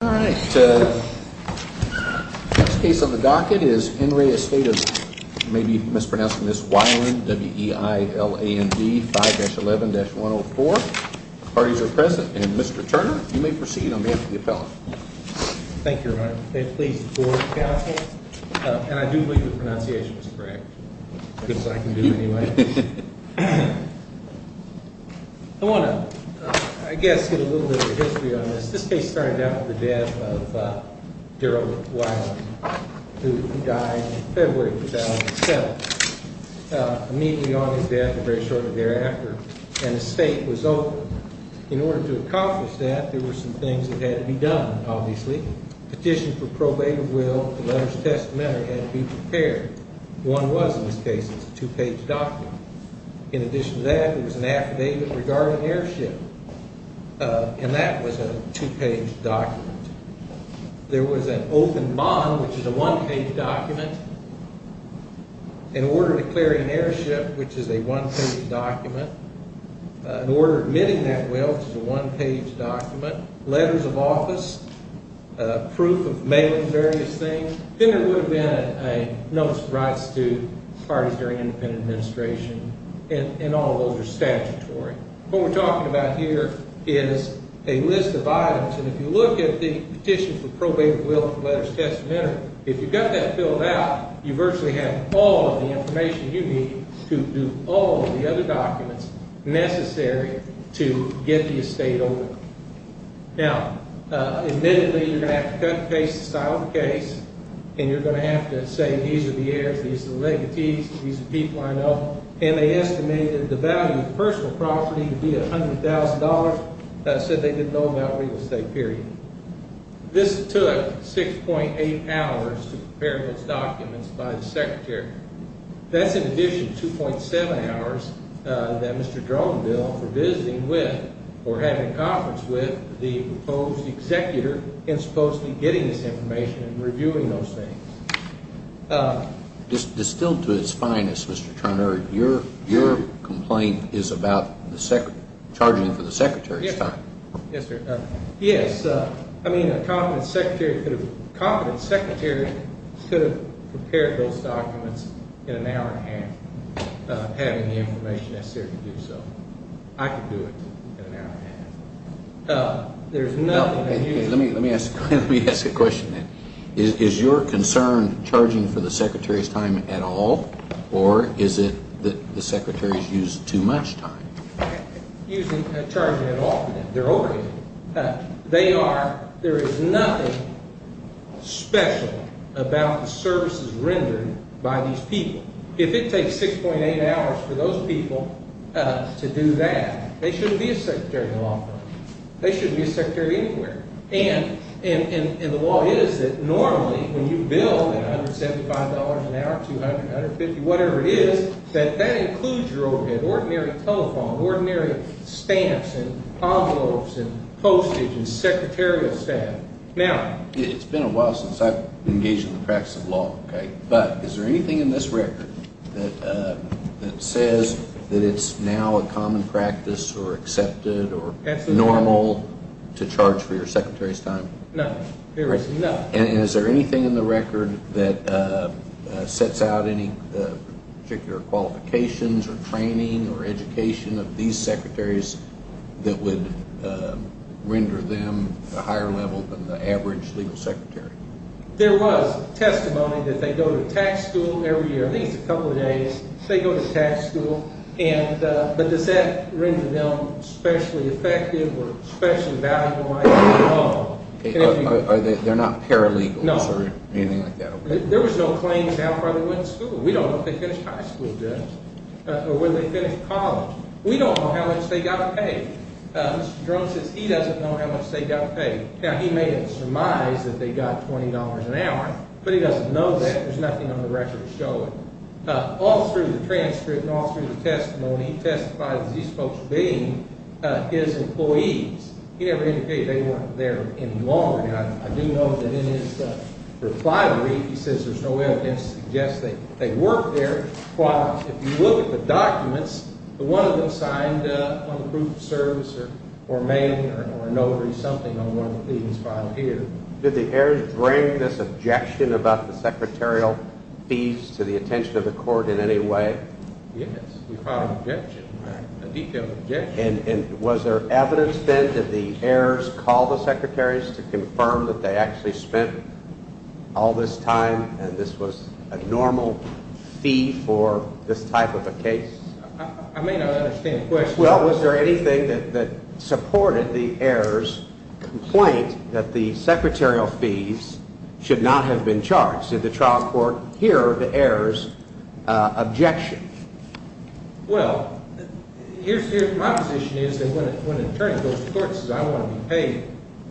All right. The next case on the docket is Henry Estate of, you may be mispronouncing this, Weiland, W-E-I-L-A-N-D, 5-11-104. The parties are present. And Mr. Turner, you may proceed. I'm here for the appellate. Thank you, Your Honor. Please forward the counsel. And I do believe the pronunciation is correct. As good as I can do, anyway. I want to, I guess, get a little bit of history on this. This case started out with the death of Darrell Weiland, who died in February of 2007. Immediately on his death, and very shortly thereafter, an estate was opened. In order to accomplish that, there were some things that had to be done, obviously. Petition for probate of will, the letter's testamentary had to be prepared. One was, in this case, it's a two-page document. In addition to that, there was an affidavit regarding an airship. And that was a two-page document. There was an open bond, which is a one-page document. An order declaring an airship, which is a one-page document. An order admitting that will, which is a one-page document. Letters of office. Proof of mailing various things. Then there would have been a notice of rights to parties during independent administration. And all of those are statutory. What we're talking about here is a list of items. And if you look at the petition for probate of will, the letter's testamentary, if you've got that filled out, you virtually have all of the information you need to do all of the other documents necessary to get the estate open. Now, admittedly, you're going to have to cut and paste the style of the case. And you're going to have to say these are the heirs, these are the legatees, these are people I know. And they estimated the value of personal property to be $100,000. That said, they didn't know about real estate, period. This took 6.8 hours to prepare those documents by the secretary. That's in addition to 2.7 hours that Mr. Dronenbill was visiting with or having a conference with the proposed executor in supposedly getting this information and reviewing those things. Distilled to its finest, Mr. Turner, your complaint is about charging for the secretary's time. Yes, sir. Yes. I mean, a competent secretary could have prepared those documents in an hour and a half, having the information necessary to do so. I could do it in an hour and a half. Let me ask a question then. Is your concern charging for the secretary's time at all? Or is it that the secretary's used too much time? They are. There is nothing special about the services rendered by these people. If it takes 6.8 hours for those people to do that, they shouldn't be a secretary in the long run. They shouldn't be a secretary anywhere. And the law is that normally when you bill $175 an hour, $200, $150, whatever it is, that that includes your overhead, ordinary telephone, ordinary stamps and envelopes and postage and secretarial staff. It's been a while since I've engaged in the practice of law. But is there anything in this record that says that it's now a common practice or accepted or normal to charge for your secretary's time? No. There is none. And is there anything in the record that sets out any particular qualifications or training or education of these secretaries that would render them a higher level than the average legal secretary? There was testimony that they go to tax school every year. At least a couple of days they go to tax school. But does that render them especially effective or especially valuable? They're not paralegals or anything like that? No. There was no claim to how far they went to school. We don't know if they finished high school or whether they finished college. We don't know how much they got paid. Mr. Drum says he doesn't know how much they got paid. Now, he may have surmised that they got $20 an hour, but he doesn't know that. There's nothing on the record to show it. All through the transcript and all through the testimony, he testifies that these folks are being his employees. He never indicated they weren't there any longer. Now, I do know that in his reply to me, he says there's no evidence to suggest that they worked there. While if you look at the documents, one of them signed on the proof of service or mailing or a notary, something on one of the pleadings filed here. Did the heirs bring this objection about the secretarial fees to the attention of the court in any way? Yes, we filed an objection, a detailed objection. And was there evidence then that the heirs called the secretaries to confirm that they actually spent all this time and this was a normal fee for this type of a case? I may not understand the question. Well, was there anything that supported the heirs' complaint that the secretarial fees should not have been charged? Did the trial court hear the heirs' objection? Well, my position is that when an attorney goes to court and says I want to be paid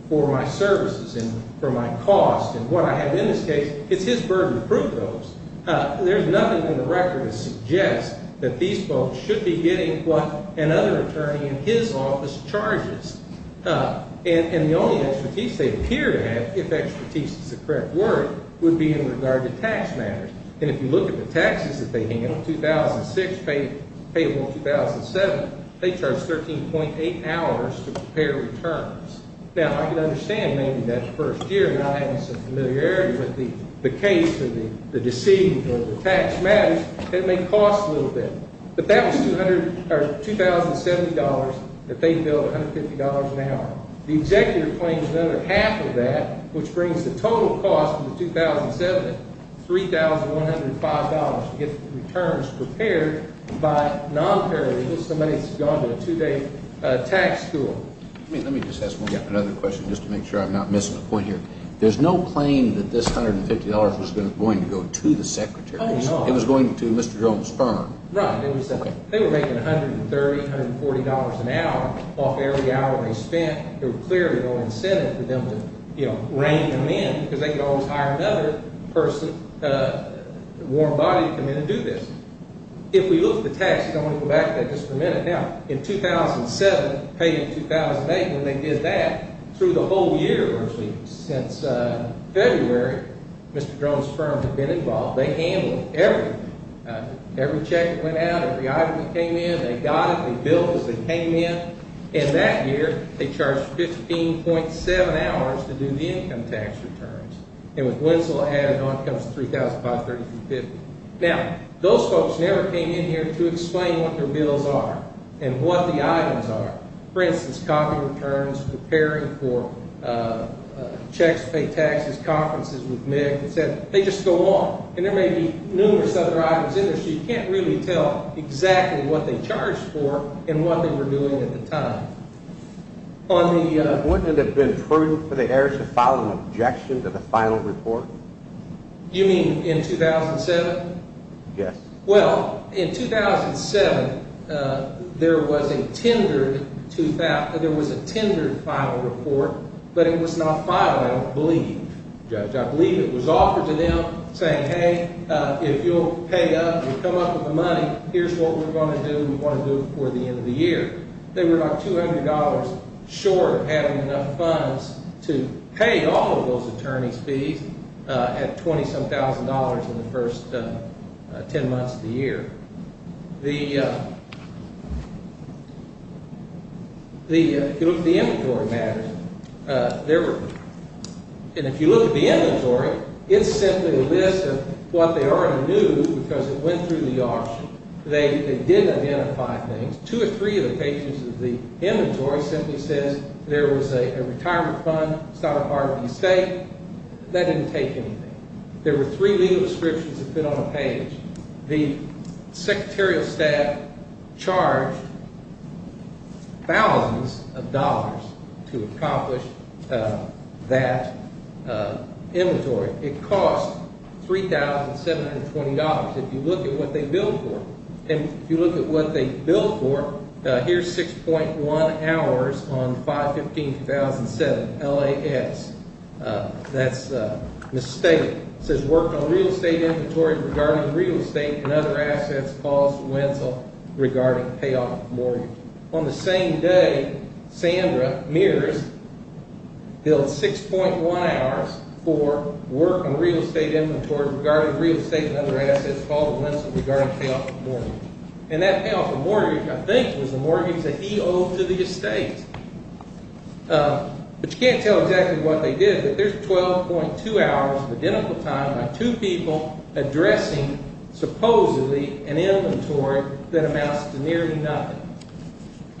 for my services and for my cost and what I have in this case, it's his burden to prove those. There's nothing in the record that suggests that these folks should be getting what another attorney in his office charges. And the only expertise they appear to have, if expertise is the correct word, would be in regard to tax matters. And if you look at the taxes that they handled, 2006 payable, 2007, they charged 13.8 hours to prepare returns. Now, I can understand maybe that first year not having some familiarity with the case or the deceit or the tax matters, that it may cost a little bit. But that was $2,070 that they billed, $150 an hour. The executive claims another half of that, which brings the total cost of the 2007 at $3,105 to get the returns prepared by nonparameters, somebody that's gone to a two-day tax school. Let me just ask one other question just to make sure I'm not missing a point here. There's no claim that this $150 was going to go to the secretary. It was going to Mr. Jones' firm. Right. They were making $130, $140 an hour off every hour they spent. There was clearly no incentive for them to rein them in because they could always hire another person, a warm body to come in and do this. If we look at the taxes, I want to go back to that just for a minute. Now, in 2007, paid in 2008, when they did that, through the whole year, virtually since February, Mr. Jones' firms have been involved. They handled everything. Every check that went out, every item that came in, they got it. They billed as they came in. And that year, they charged $15.7 hours to do the income tax returns. And with Winslow ahead, on comes the $3,005, $3,350. Now, those folks never came in here to explain what their bills are and what the items are. For instance, copy returns, preparing for checks to pay taxes, conferences with Mick. They just go on. And there may be numerous other items in there, so you can't really tell exactly what they charged for and what they were doing at the time. Wouldn't it have been prudent for the heirs to file an objection to the final report? You mean in 2007? Yes. Well, in 2007, there was a tendered final report, but it was not filed, I believe. Judge, I believe it was offered to them, saying, hey, if you'll pay up, you'll come up with the money, here's what we're going to do. We want to do it before the end of the year. They were about $200 short of having enough funds to pay all of those attorneys' fees at $27,000 in the first 10 months of the year. If you look at the inventory matters, and if you look at the inventory, it's simply a list of what they already knew because it went through the auction. They didn't identify things. Two or three of the pages of the inventory simply says there was a retirement fund, it's not a part of the estate. That didn't take anything. There were three legal descriptions that fit on a page. The secretarial staff charged thousands of dollars to accomplish that inventory. It cost $3,720. If you look at what they billed for, and if you look at what they billed for, here's 6.1 hours on 5-15-2007, LAS. That's misstated. It says work on real estate inventory regarding real estate and other assets caused to wincel regarding payoff mortgage. On the same day, Sandra Meares billed 6.1 hours for work on real estate inventory regarding real estate and other assets caused to wincel regarding payoff mortgage. And that payoff mortgage, I think, was the mortgage that he owed to the estate. But you can't tell exactly what they did, but there's 12.2 hours of identical time by two people addressing, supposedly, an inventory that amounts to nearly nothing.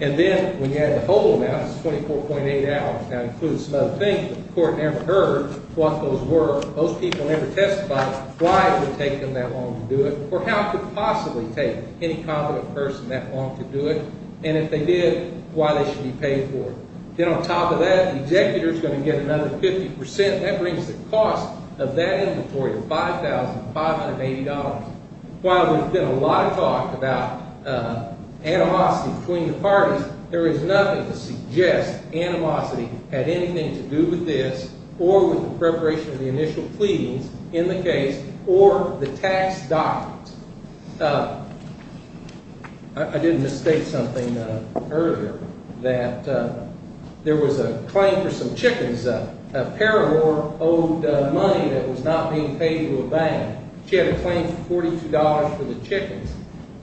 And then when you add the whole amount, it's 24.8 hours. That includes some other things, but the court never heard what those were. Most people never testified why it would take them that long to do it or how it could possibly take any competent person that long to do it. And if they did, why they should be paid for it. Then on top of that, the executor's going to get another 50%. That brings the cost of that inventory to $5,580. While there's been a lot of talk about animosity between the parties, there is nothing to suggest animosity had anything to do with this or with the preparation of the initial pleadings in the case or the tax documents. I did misstate something earlier, that there was a claim for some chickens. A pair of her owed money that was not being paid to a bank. She had a claim for $42 for the chickens.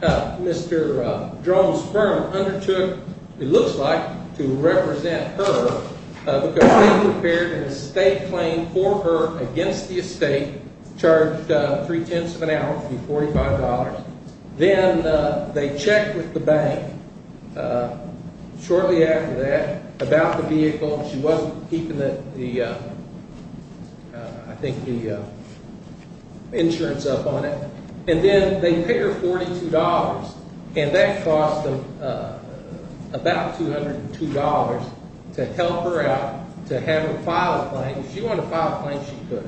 Mr. Drone's firm undertook, it looks like, to represent her because they prepared an estate claim for her against the estate, charged three-tenths of an hour to be $45. Then they checked with the bank shortly after that about the vehicle. She wasn't keeping the, I think, the insurance up on it. And then they paid her $42, and that cost them about $202 to help her out, to have her file a claim. If she wanted to file a claim, she could.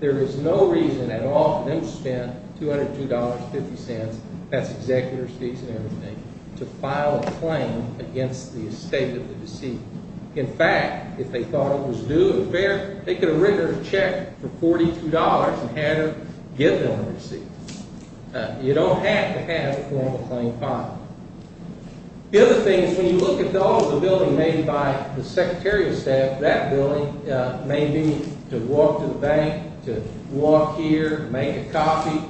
There is no reason at all for them to spend $202.50, that's executor's fees and everything, to file a claim against the estate of the deceased. In fact, if they thought it was due and fair, they could have written her a check for $42 and had her give them the receipt. You don't have to have a formal claim filed. The other thing is when you look at all of the billing made by the secretarial staff, that billing may be to walk to the bank, to walk here, make a coffee.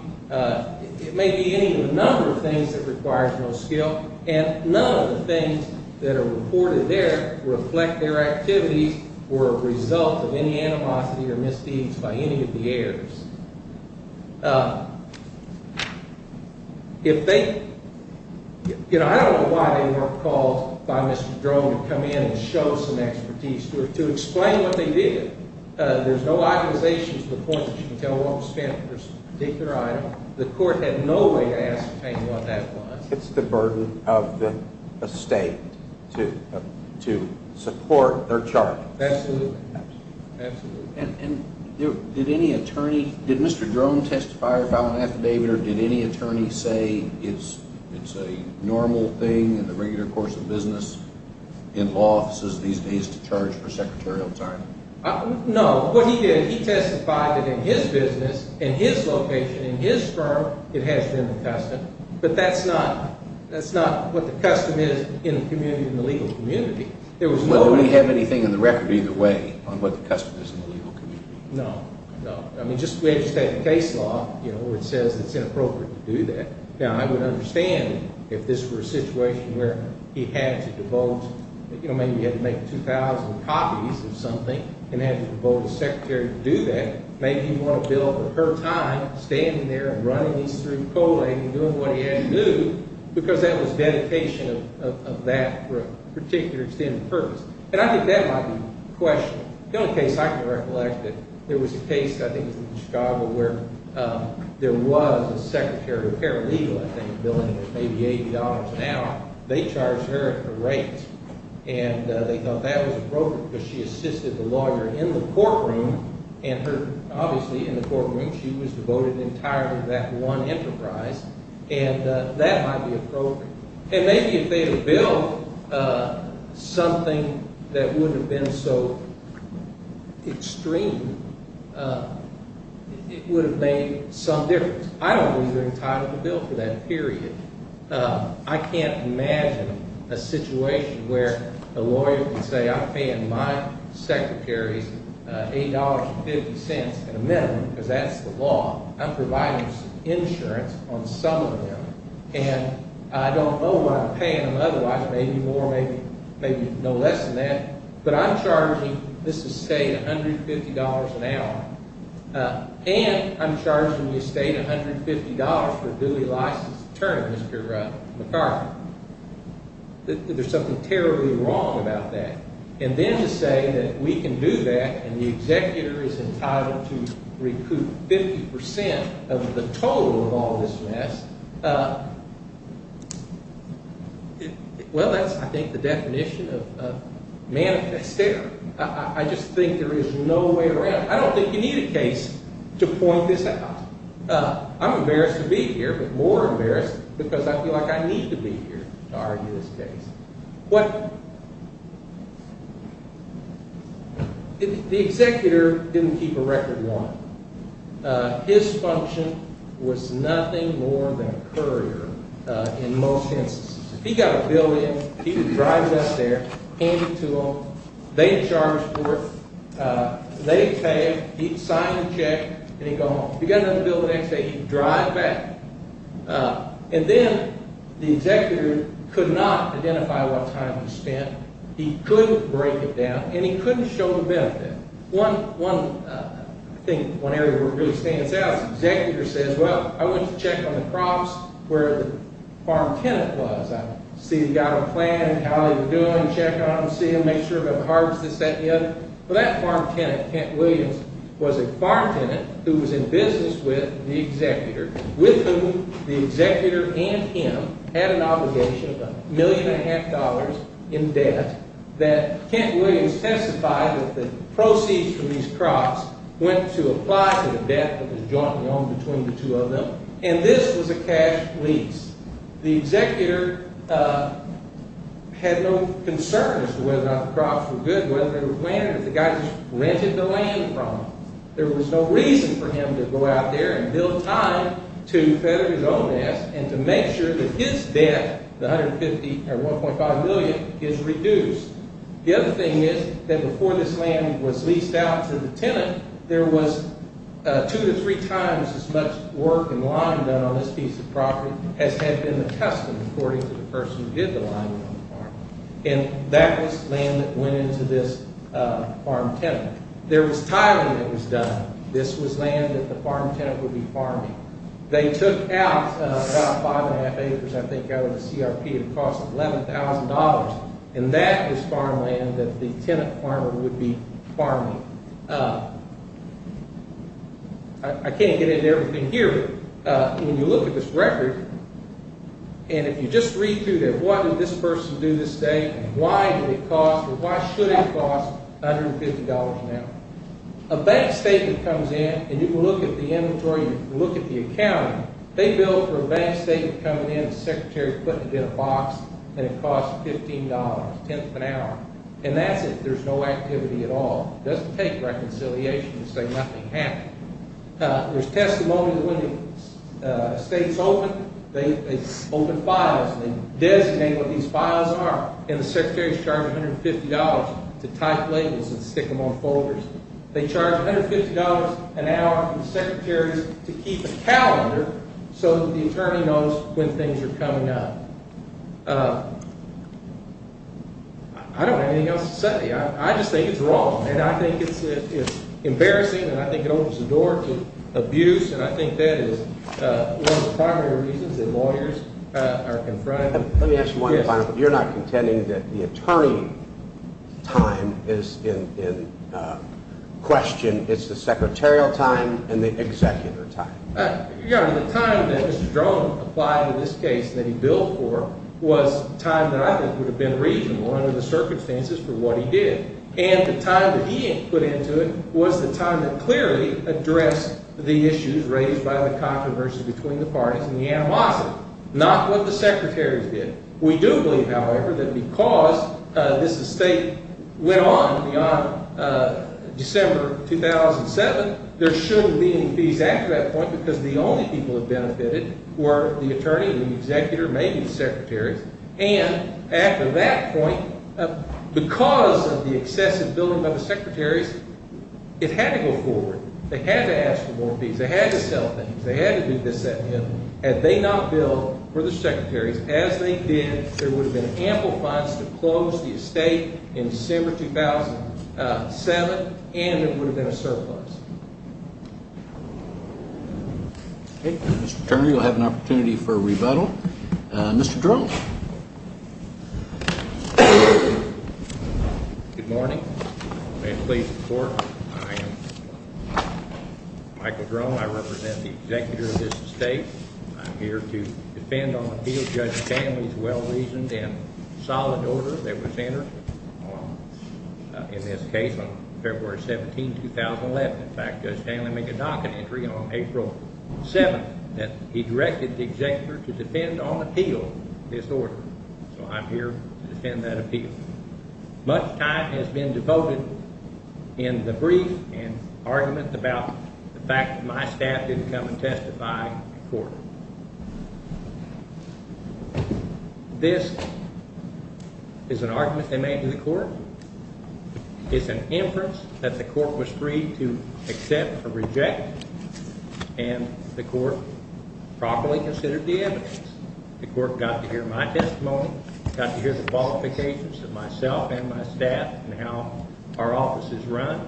It may be any number of things that requires no skill. And none of the things that are reported there reflect their activities were a result of any animosity or misdeeds by any of the heirs. I don't know why they weren't called by Mr. Drone to come in and show some expertise, to explain what they did. There are no accusations to the point that you can tell what was spent for a particular item. The court had no way to ascertain what that was. It's the burden of the estate to support their charges. Absolutely. Did Mr. Drone testify or file an affidavit, or did any attorney say it's a normal thing in the regular course of business in law offices these days to charge for secretarial time? No. What he did, he testified that in his business, in his location, in his firm, it has been the custom. But that's not what the custom is in the community, in the legal community. Well, do we have anything in the record either way on what the custom is in the legal community? No, no. I mean, just the way it's set in case law, you know, where it says it's inappropriate to do that. Now, I would understand if this were a situation where he had to devote, you know, maybe he had to make 2,000 copies of something and had to devote a secretary to do that. Maybe he'd want to build up her time standing there and running these through Koehling and doing what he had to do because that was dedication of that for a particular extended purpose. And I think that might be a question. The only case I can recollect that there was a case, I think it was in Chicago, where there was a secretary of paralegal, I think, billing maybe $80 an hour. They charged her a raise. And they thought that was appropriate because she assisted the lawyer in the courtroom and her – obviously in the courtroom she was devoted entirely to that one enterprise. And that might be appropriate. And maybe if they had billed something that wouldn't have been so extreme, it would have made some difference. I don't think they're entitled to bill for that period. I can't imagine a situation where a lawyer can say I'm paying my secretary $8.50 in a minimum because that's the law. I'm providing insurance on some of them. And I don't know what I'm paying them otherwise. Maybe more, maybe no less than that. But I'm charging this estate $150 an hour. And I'm charging the estate $150 for a duly licensed attorney, Mr. McCarthy. There's something terribly wrong about that. And then to say that we can do that and the executor is entitled to recoup 50% of the total of all this mess, well, that's, I think, the definition of manifest error. I just think there is no way around it. I don't think you need a case to point this out. I'm embarrassed to be here, but more embarrassed because I feel like I need to be here to argue this case. What the executor didn't keep a record of. His function was nothing more than a courier in most instances. If he got a bill in, he would drive it up there, hand it to them, they'd charge for it, they'd pay, he'd sign the check, and he'd go home. If he got another bill the next day, he'd drive back. And then the executor could not identify what time he spent. He couldn't break it down, and he couldn't show the benefit. One thing, one area where it really stands out is the executor says, well, I went to check on the crops where the farm tenant was. I see he got a plan of how they were doing, check on them, see them, make sure they haven't harvested this, that, and the other. Well, that farm tenant, Kent Williams, was a farm tenant who was in business with the executor, with whom the executor and him had an obligation of a million and a half dollars in debt, that Kent Williams testified that the proceeds from these crops went to apply to the debt that was jointly owned between the two of them, and this was a cash lease. The executor had no concerns as to whether or not the crops were good, whether they were planted, or if the guy just rented the land from them. There was no reason for him to go out there and build time to feather his own nest and to make sure that his debt, the 150 or 1.5 million, is reduced. The other thing is that before this land was leased out to the tenant, there was two to three times as much work and line done on this piece of property as had been the custom, according to the person who did the line work on the farm, and that was land that went into this farm tenant. There was tiling that was done. This was land that the farm tenant would be farming. They took out about five and a half acres, I think, out of the CRP and cost $11,000, and that is farmland that the tenant farmer would be farming. I can't get into everything here, but when you look at this record, and if you just read through it, what did this person do this day, and why did it cost or why should it cost $150 now? A bank statement comes in, and you can look at the inventory, you can look at the accounting. They billed for a bank statement coming in, and the secretary put it in a box, and it cost $15, a tenth of an hour, and that's it. There's no activity at all. It doesn't take reconciliation to say nothing happened. There's testimony that when the states open, they open files, and they designate what these files are, and the secretaries charge $150 to type labels and stick them on folders. They charge $150 an hour from the secretaries to keep a calendar so that the attorney knows when things are coming up. I don't have anything else to say. I just think it's wrong, and I think it's embarrassing, and I think it opens the door to abuse, and I think that is one of the primary reasons that lawyers are confronted. Let me ask you one final thing. You're not contending that the attorney time is in question. It's the secretarial time and the executor time. The time that Mr. Drone applied in this case that he billed for was time that I think would have been reasonable under the circumstances for what he did, and the time that he put into it was the time that clearly addressed the issues raised by the controversies between the parties and the animosity, not what the secretaries did. We do believe, however, that because this estate went on beyond December 2007, there shouldn't be any fees after that point because the only people that benefited were the attorney and the executor, maybe the secretaries, and after that point, because of the excessive billing by the secretaries, it had to go forward. They had to ask for more fees. They had to sell things. They had to do this at the end. Had they not billed for the secretaries as they did, there would have been ample funds to close the estate in December 2007, and there would have been a surplus. Okay, Mr. Turner, you'll have an opportunity for a rebuttal. Mr. Drone. Good morning. May it please the Court. I am Michael Drone. I represent the executor of this estate. I'm here to defend on appeal Judge Stanley's well-reasoned and solid order that was entered in this case on February 17, 2011. In fact, Judge Stanley made a docket entry on April 7 that he directed the executor to defend on appeal this order, so I'm here to defend that appeal. Much time has been devoted in the brief and argument about the fact that my staff didn't come and testify in court. This is an argument they made to the court. It's an inference that the court was free to accept or reject, and the court properly considered the evidence. The court got to hear my testimony, got to hear the qualifications of myself and my staff and how our office is run.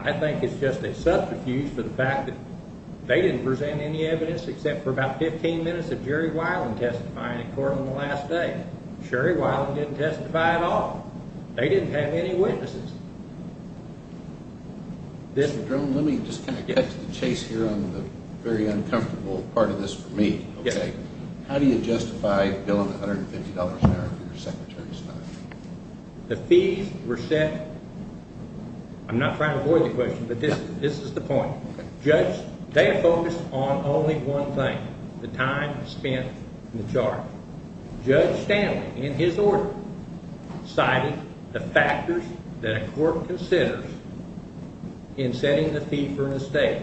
I think it's just a subterfuge for the fact that they didn't present any evidence except for about 15 minutes of Jerry Weiland testifying in court on the last day. Jerry Weiland didn't testify at all. They didn't have any witnesses. Mr. Drone, let me just kind of get to the chase here on the very uncomfortable part of this for me. How do you justify billing $150 an hour for your secretary's time? The fees were set. I'm not trying to avoid the question, but this is the point. Judge, they have focused on only one thing, the time spent in the charge. Judge Stanley, in his order, cited the factors that a court considers in setting the fee for an estate.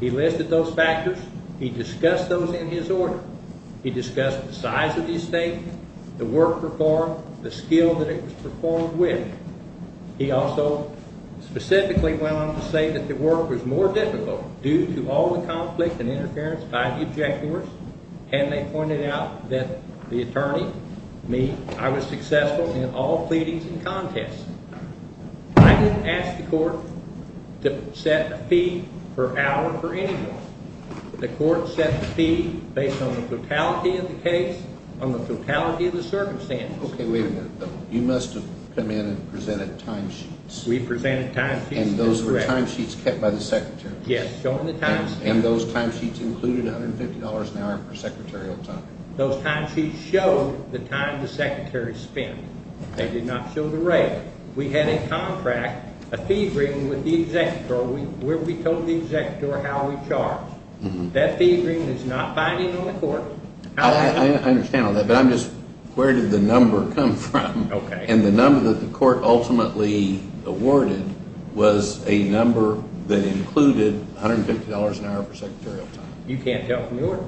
He listed those factors. He discussed those in his order. He discussed the size of the estate, the work performed, the skill that it was performed with. He also specifically went on to say that the work was more difficult due to all the conflict and interference by the objectors. And they pointed out that the attorney, me, I was successful in all pleadings and contests. I didn't ask the court to set a fee per hour for anyone. The court set the fee based on the totality of the case, on the totality of the circumstances. Okay, wait a minute. You must have come in and presented timesheets. We presented timesheets. And those were timesheets kept by the secretary? Yes, showing the timesheets. And those timesheets included $150 an hour per secretarial time? Those timesheets showed the time the secretary spent. They did not show the rate. We had a contract, a fee-bringing with the executor where we told the executor how we charged. That fee-bringing is not binding on the court. I understand all that, but I'm just, where did the number come from? Okay. And the number that the court ultimately awarded was a number that included $150 an hour per secretarial time. You can't tell from the order.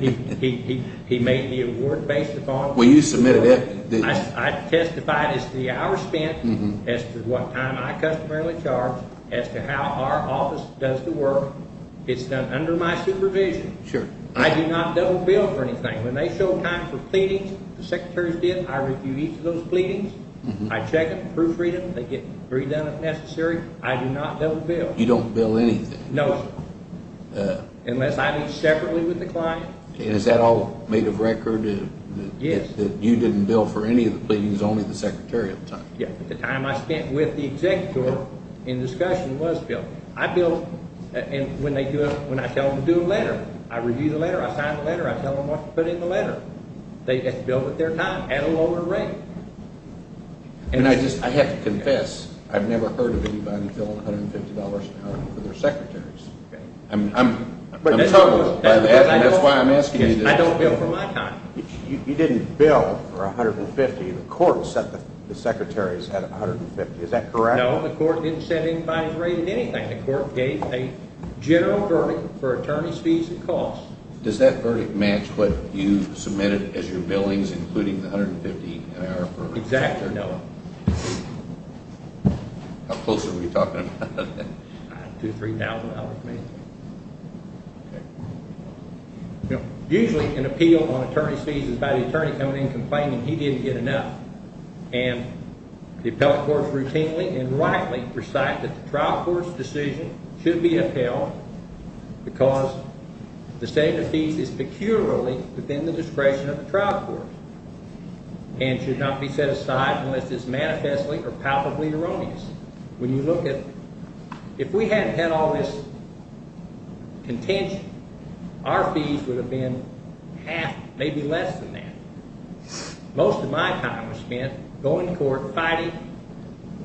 He made the award based upon the work. Well, you submitted it. I testified as to the hour spent, as to what time I customarily charge, as to how our office does the work. It's done under my supervision. Sure. I do not double bill for anything. When they show time for pleadings, the secretaries did, I review each of those pleadings. I check them, proofread them. They get redone if necessary. I do not double bill. You don't bill anything? No, sir. Unless I meet separately with the client. And is that all made of record? Yes. That you didn't bill for any of the pleadings, only the secretary at the time? Yes. The time I spent with the executor in discussion was billed. I bill when I tell them to do a letter. I review the letter. I sign the letter. I tell them what to put in the letter. They bill with their time at a lower rate. And I just have to confess, I've never heard of anybody billing $150 an hour for their secretaries. I'm troubled by that, and that's why I'm asking you this. I don't bill for my time. You didn't bill for $150. The court set the secretaries at $150. Is that correct? No, the court didn't set anybody's rate at anything. The court gave a general verdict for attorney's fees and costs. Does that verdict match what you submitted as your billings, including the $150 an hour verdict? Exactly, no. How close are we talking about that? To $3,000, maybe. Usually an appeal on attorney's fees is by the attorney coming in complaining he didn't get enough. And the appellate courts routinely and rightly recite that the trial court's decision should be upheld because the state of the fees is peculiarly within the discretion of the trial court and should not be set aside unless it's manifestly or palpably erroneous. When you look at it, if we hadn't had all this contention, our fees would have been half, maybe less than that. Most of my time was spent going to court, fighting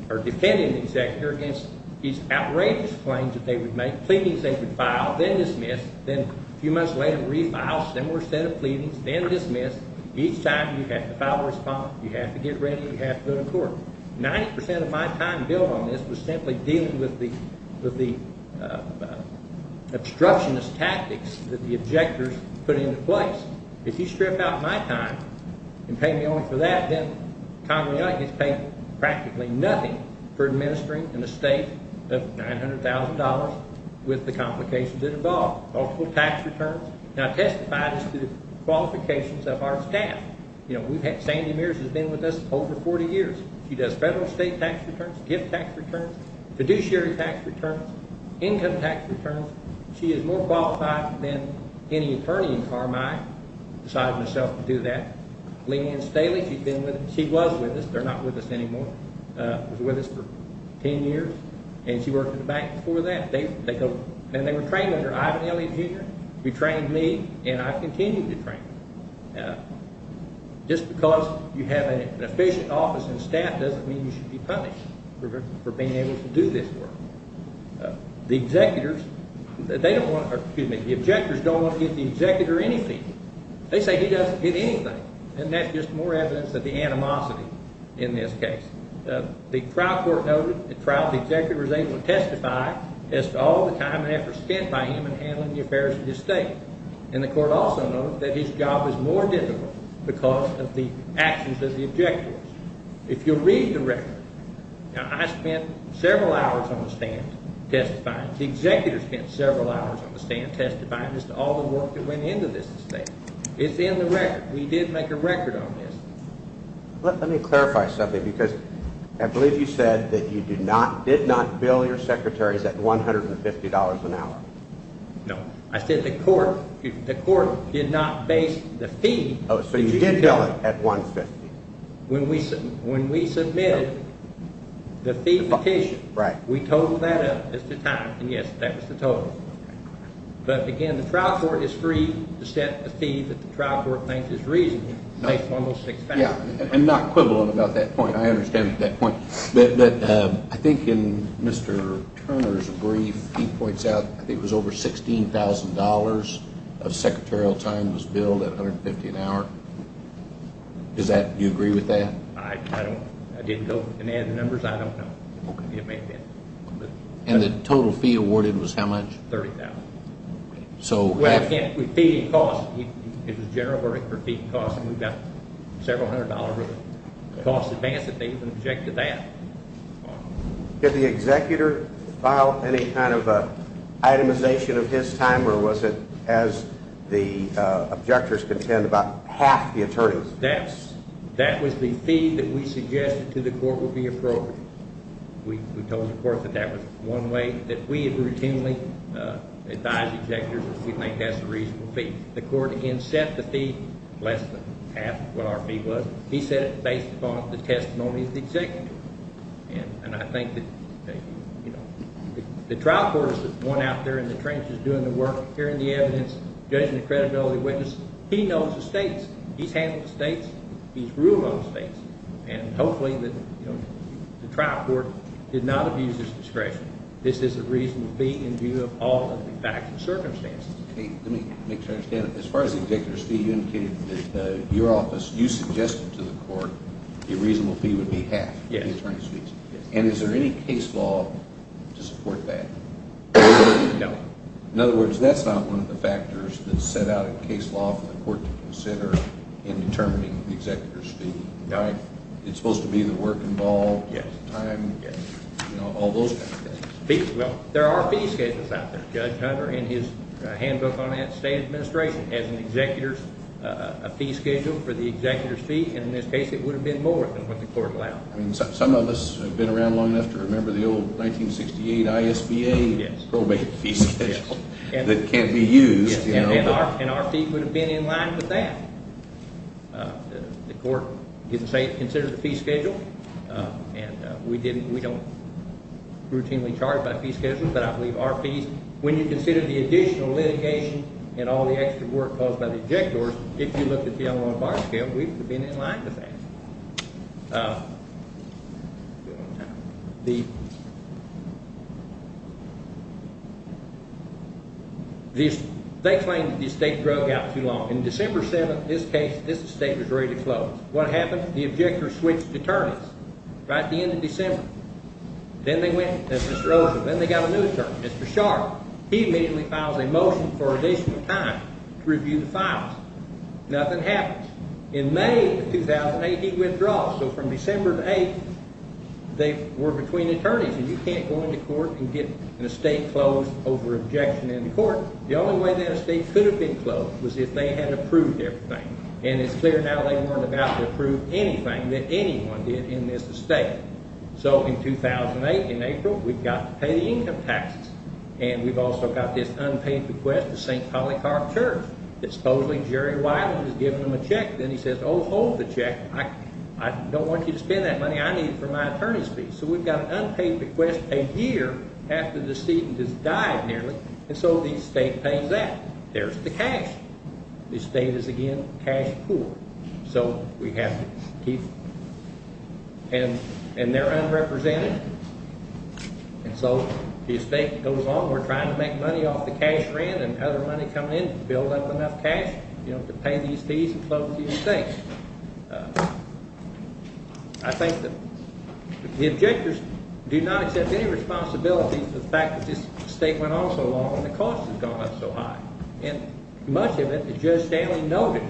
or defending the executor against these outrageous claims that they would make, pleadings they would file, then dismiss, then a few months later refile, similar set of pleadings, then dismiss. Each time you have to file a response, you have to get ready, you have to go to court. 90% of my time billed on this was simply dealing with the obstructionist tactics that the objectors put into place. If you strip out my time and pay me only for that, then Congressman Young has paid practically nothing for administering an estate of $900,000 with the complications that involve multiple tax returns. Now testify to the qualifications of our staff. Sandy Mears has been with us over 40 years. She does federal and state tax returns, gift tax returns, fiduciary tax returns, income tax returns. She is more qualified than any attorney in Carmine. I decided myself to do that. Leanne Staley, she was with us. They're not with us anymore. She was with us for 10 years, and she worked at the bank before that. They were trained under Ivan Elliot, Jr. He trained me, and I continue to train him. Just because you have an efficient office and staff doesn't mean you should be punished for being able to do this work. The objectors don't want to give the executor anything. They say he doesn't get anything, and that's just more evidence of the animosity in this case. The trial court noted the trial's executor was able to testify as to all the time and effort spent by him in handling the affairs of the estate. And the court also noted that his job is more difficult because of the actions of the objectors. If you read the record, I spent several hours on the stand testifying. The executor spent several hours on the stand testifying as to all the work that went into this estate. It's in the record. We did make a record on this. Let me clarify something because I believe you said that you did not bill your secretaries at $150 an hour. No. I said the court did not base the fee. Oh, so you did bill it at $150. When we submitted the fee petition, we totaled that up as to time, and yes, that was the total. But again, the trial court is free to set a fee that the trial court thinks is reasonable based on those six facts. I'm not quibbling about that point. I understand that point. But I think in Mr. Turner's brief, he points out that it was over $16,000 of secretarial time was billed at $150 an hour. Do you agree with that? I don't. I didn't go and add the numbers. I don't know. And the total fee awarded was how much? $30,000. Well, again, with fee and cost, it was a general verdict for fee and cost, and we got several hundred dollars of cost advance if they even objected that. Did the executor file any kind of itemization of his time, or was it as the objectors contend, about half the attorneys? That was the fee that we suggested to the court would be appropriate. We told the court that that was one way that we would routinely advise executors if we think that's a reasonable fee. The court, again, set the fee less than half what our fee was. He said it based upon the testimony of the executor. And I think that the trial court is the one out there in the trenches doing the work, hearing the evidence, judging the credibility of the witness. He knows the states. He's handled the states. He's ruled on the states. And hopefully the trial court did not abuse his discretion. This is a reasonable fee in view of all of the facts and circumstances. Let me make sure I understand it. As far as the executor's fee, you indicated that your office, you suggested to the court a reasonable fee would be half the attorney's fees. And is there any case law to support that? No. In other words, that's not one of the factors that set out a case law for the court to consider in determining the executor's fee. It's supposed to be the work involved, the time, all those kinds of things. Well, there are fee schedules out there. Judge Hunter, in his handbook on that state administration, has an executor's fee schedule for the executor's fee. And in this case it would have been more than what the court allowed. Some of us have been around long enough to remember the old 1968 ISBA probate fee schedule that can't be used. And our fee would have been in line with that. The court considered the fee schedule, and we don't routinely charge by fee schedule, but I believe our fees. When you consider the additional litigation and all the extra work caused by the objectors, if you look at the online bar scale, we've been in line with that. They claimed that the estate broke out too long. In December 7th, this case, this estate was ready to close. What happened? The objectors switched attorneys right at the end of December. Then they went to Mr. Olson. Then they got a new attorney, Mr. Sharp. He immediately files a motion for additional time to review the files. Nothing happens. In May of 2008, he withdraws. So from December 8th, they were between attorneys. You can't go into court and get an estate closed over objection in the court. The only way that estate could have been closed was if they had approved everything. And it's clear now they weren't about to approve anything that anyone did in this estate. So in 2008, in April, we've got to pay the income taxes. And we've also got this unpaid bequest to St. Polycarp Church. Supposedly, Jerry Weiland has given them a check. Then he says, oh, hold the check. I don't want you to spend that money. I need it for my attorney's fees. So we've got an unpaid bequest a year after the decedent has died nearly. And so the estate pays that. There's the cash. The estate is, again, cash poor. So we have to keep it. And they're unrepresented. And so the estate goes on. We're trying to make money off the cash rent and other money coming in to build up enough cash to pay these fees and close the estate. I think that the objectors do not accept any responsibility for the fact that this estate went on so long and the cost has gone up so high. And much of it is Judge Stanley noted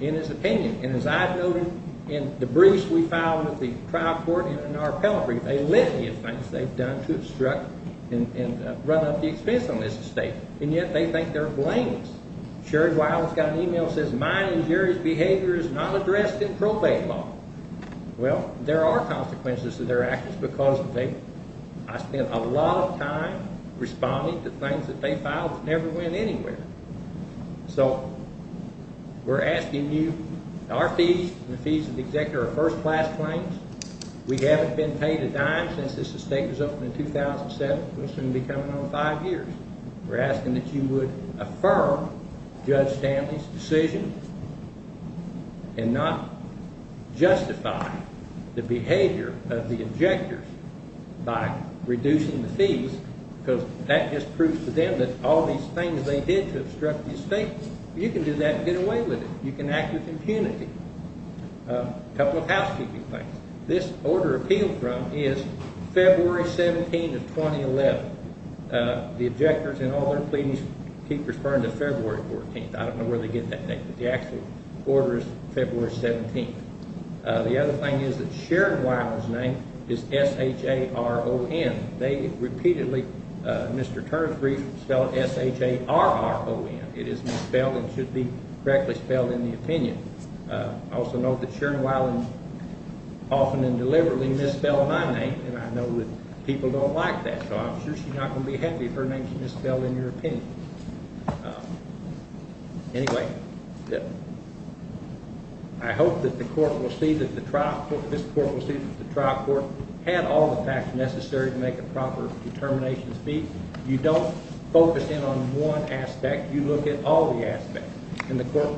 in his opinion. And as I've noted in the briefs we filed at the trial court and in our appellate brief, they litigate things they've done to obstruct and run up the expense on this estate. And yet they think they're blameless. Sherry Weiland's got an email that says mine and Jerry's behavior is not addressed in probate law. Well, there are consequences to their actions because I spent a lot of time responding to things that they filed that never went anywhere. So we're asking you, our fees and the fees of the executor are first-class claims. We haven't been paid a dime since this estate was opened in 2007. It's going to be coming on in five years. We're asking that you would affirm Judge Stanley's decision and not justify the behavior of the objectors by reducing the fees because that just proves to them that all these things they did to obstruct the estate, you can do that and get away with it. You can act with impunity. A couple of housekeeping things. This order appealed from is February 17th of 2011. The objectors in all their pleadings keep referring to February 14th. I don't know where they get that name, but the actual order is February 17th. The other thing is that Sherry Weiland's name is S-H-A-R-O-N. They repeatedly, Mr. Turner's brief spelled S-H-A-R-R-O-N. It is misspelled and should be correctly spelled in the opinion. Also note that Sherry Weiland often and deliberately misspelled my name, and I know that people don't like that, so I'm sure she's not going to be happy if her name is misspelled in your opinion. Anyway, I hope that the court will see that the trial court, this court will see that the trial court had all the facts necessary to make a proper determination of fees. You don't focus in on one aspect. You look at all the aspects. In the court,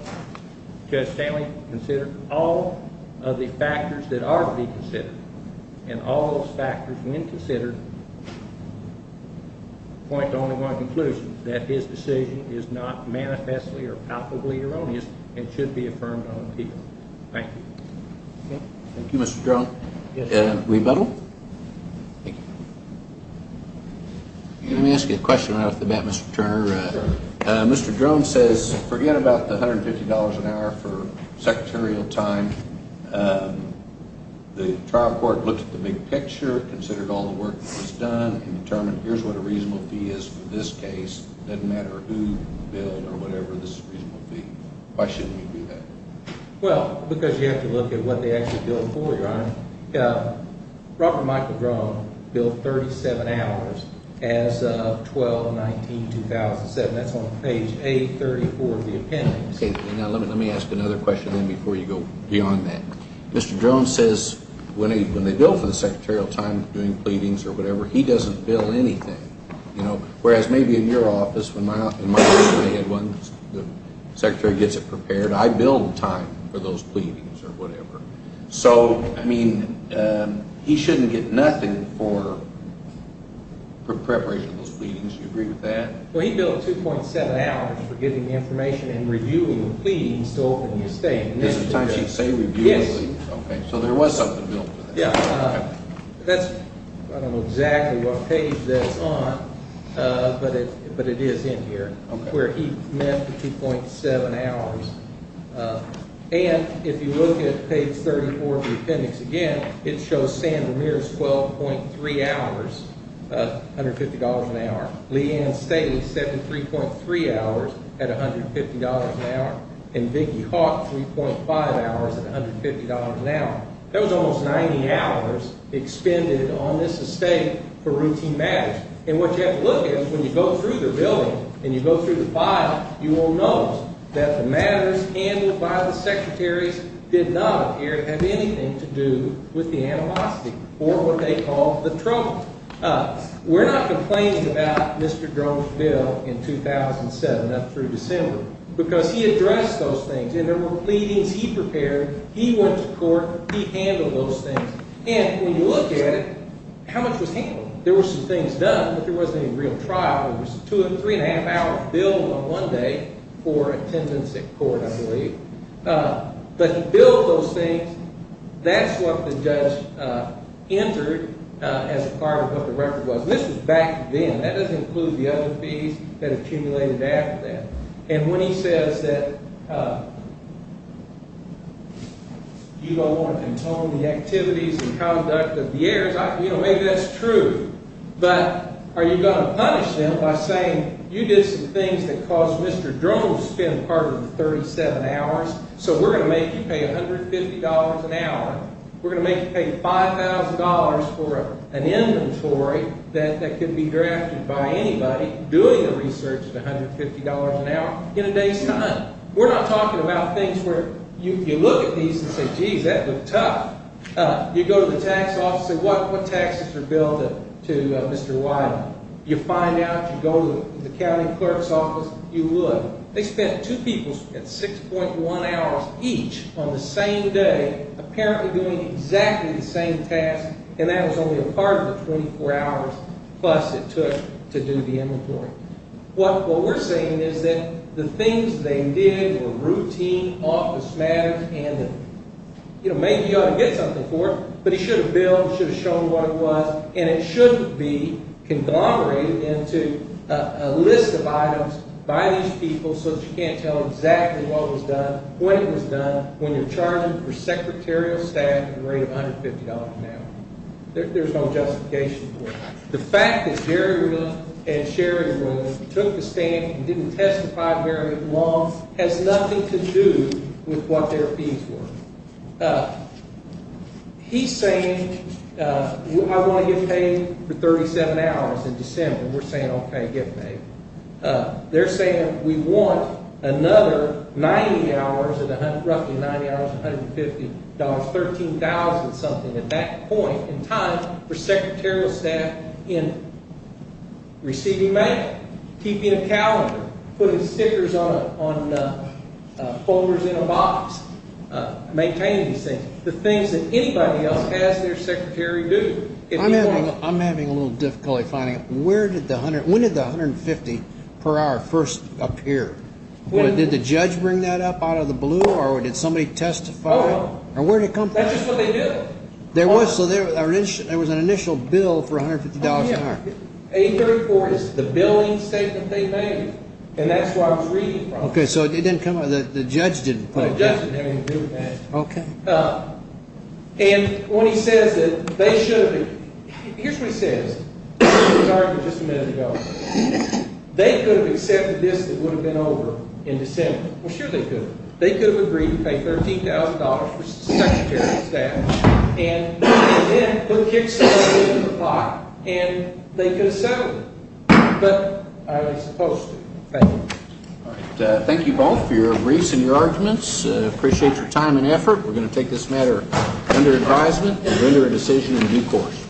Judge Stanley considered all of the factors that ought to be considered, and all those factors, when considered, point to only one conclusion, that his decision is not manifestly or palpably erroneous and should be affirmed on appeal. Thank you. Thank you, Mr. Drone. Rebuttal? Thank you. Let me ask you a question right off the bat, Mr. Turner. Mr. Drone says forget about the $150 an hour for secretarial time. The trial court looked at the big picture, considered all the work that was done, and determined here's what a reasonable fee is for this case. It doesn't matter who billed or whatever, this is a reasonable fee. Why shouldn't we do that? Well, because you have to look at what they actually billed for, Your Honor. Robert Michael Drone billed 37 hours as of 12-19-2007. That's on page A34 of the appendix. Let me ask another question then before you go beyond that. Mr. Drone says when they bill for the secretarial time, doing pleadings or whatever, he doesn't bill anything. Whereas maybe in your office, when my office may have one, the secretary gets it prepared, I bill the time for those pleadings or whatever. So, I mean, he shouldn't get nothing for preparation of those pleadings. Do you agree with that? Well, he billed 2.7 hours for getting the information and reviewing the pleadings to open the estate. This is the time she'd say review the pleadings? Yes. Okay, so there was something billed for that. Yeah. That's, I don't know exactly what page that's on, but it is in here, where he met the 2.7 hours. And if you look at page 34 of the appendix again, it shows Sam Ramirez, 12.3 hours, $150 an hour. Leanne Staley, 73.3 hours at $150 an hour. And Vicki Hawk, 3.5 hours at $150 an hour. That was almost 90 hours expended on this estate for routine matters. And what you have to look at is when you go through the building and you go through the file, you will notice that the matters handled by the secretaries did not appear to have anything to do with the animosity, or what they call the trouble. We're not complaining about Mr. Groves' bill in 2007 up through December, because he addressed those things, and there were pleadings he prepared. He went to court. He handled those things. And when you look at it, how much was handled? There were some things done, but there wasn't any real trial. It was a three-and-a-half-hour bill on one day for attendance at court, I believe. But he billed those things. That's what the judge entered as part of what the record was. This was back then. That doesn't include the other fees that accumulated after that. And when he says that you don't want to control the activities and conduct of the heirs, you know, maybe that's true. But are you going to punish them by saying you did some things that caused Mr. Groves to spend part of the 37 hours, so we're going to make you pay $150 an hour? We're going to make you pay $5,000 for an inventory that could be drafted by anybody doing the research at $150 an hour in a day's time? We're not talking about things where you look at these and say, geez, that looked tough. You go to the tax office and say, what taxes are billed to Mr. Wyden? You find out, you go to the county clerk's office, you would. They spent two people at 6.1 hours each on the same day apparently doing exactly the same task, and that was only a part of the 24 hours plus it took to do the inventory. What we're saying is that the things they did were routine office matters, and maybe you ought to get something for it, but he should have billed, should have shown what it was, and it should be conglomerated into a list of items by these people so that you can't tell exactly what was done, when it was done, when you're charging for secretarial staff at a rate of $150 an hour. There's no justification for it. The fact that Jerry and Sherry took the stand and didn't testify very long has nothing to do with what their fees were. He's saying, I want to get paid for 37 hours in December. We're saying, okay, get paid. They're saying we want another 90 hours, roughly 90 hours, $150, $13,000 something at that point in time for secretarial staff in receiving mail, keeping a calendar, putting stickers on folders in a box, maintaining these things, the things that anybody else has their secretary do. I'm having a little difficulty finding it. When did the $150 per hour first appear? Did the judge bring that up out of the blue, or did somebody testify? That's just what they do. There was an initial bill for $150 an hour. A34 is the billing statement they made, and that's where I was reading from. Okay, so it didn't come up, the judge didn't put it there. The judge didn't have anything to do with that. Okay. And when he says that they should have been – here's what he says. He was arguing just a minute ago. They could have accepted this and it would have been over in December. Well, sure they could have. They could have agreed to pay $13,000 for secretarial staff and put a kickstarter in the pot and they could have settled it. But are they supposed to? Thank you. All right. Thank you both for your briefs and your arguments. Appreciate your time and effort. We're going to take this matter under advisement and render a decision in due course.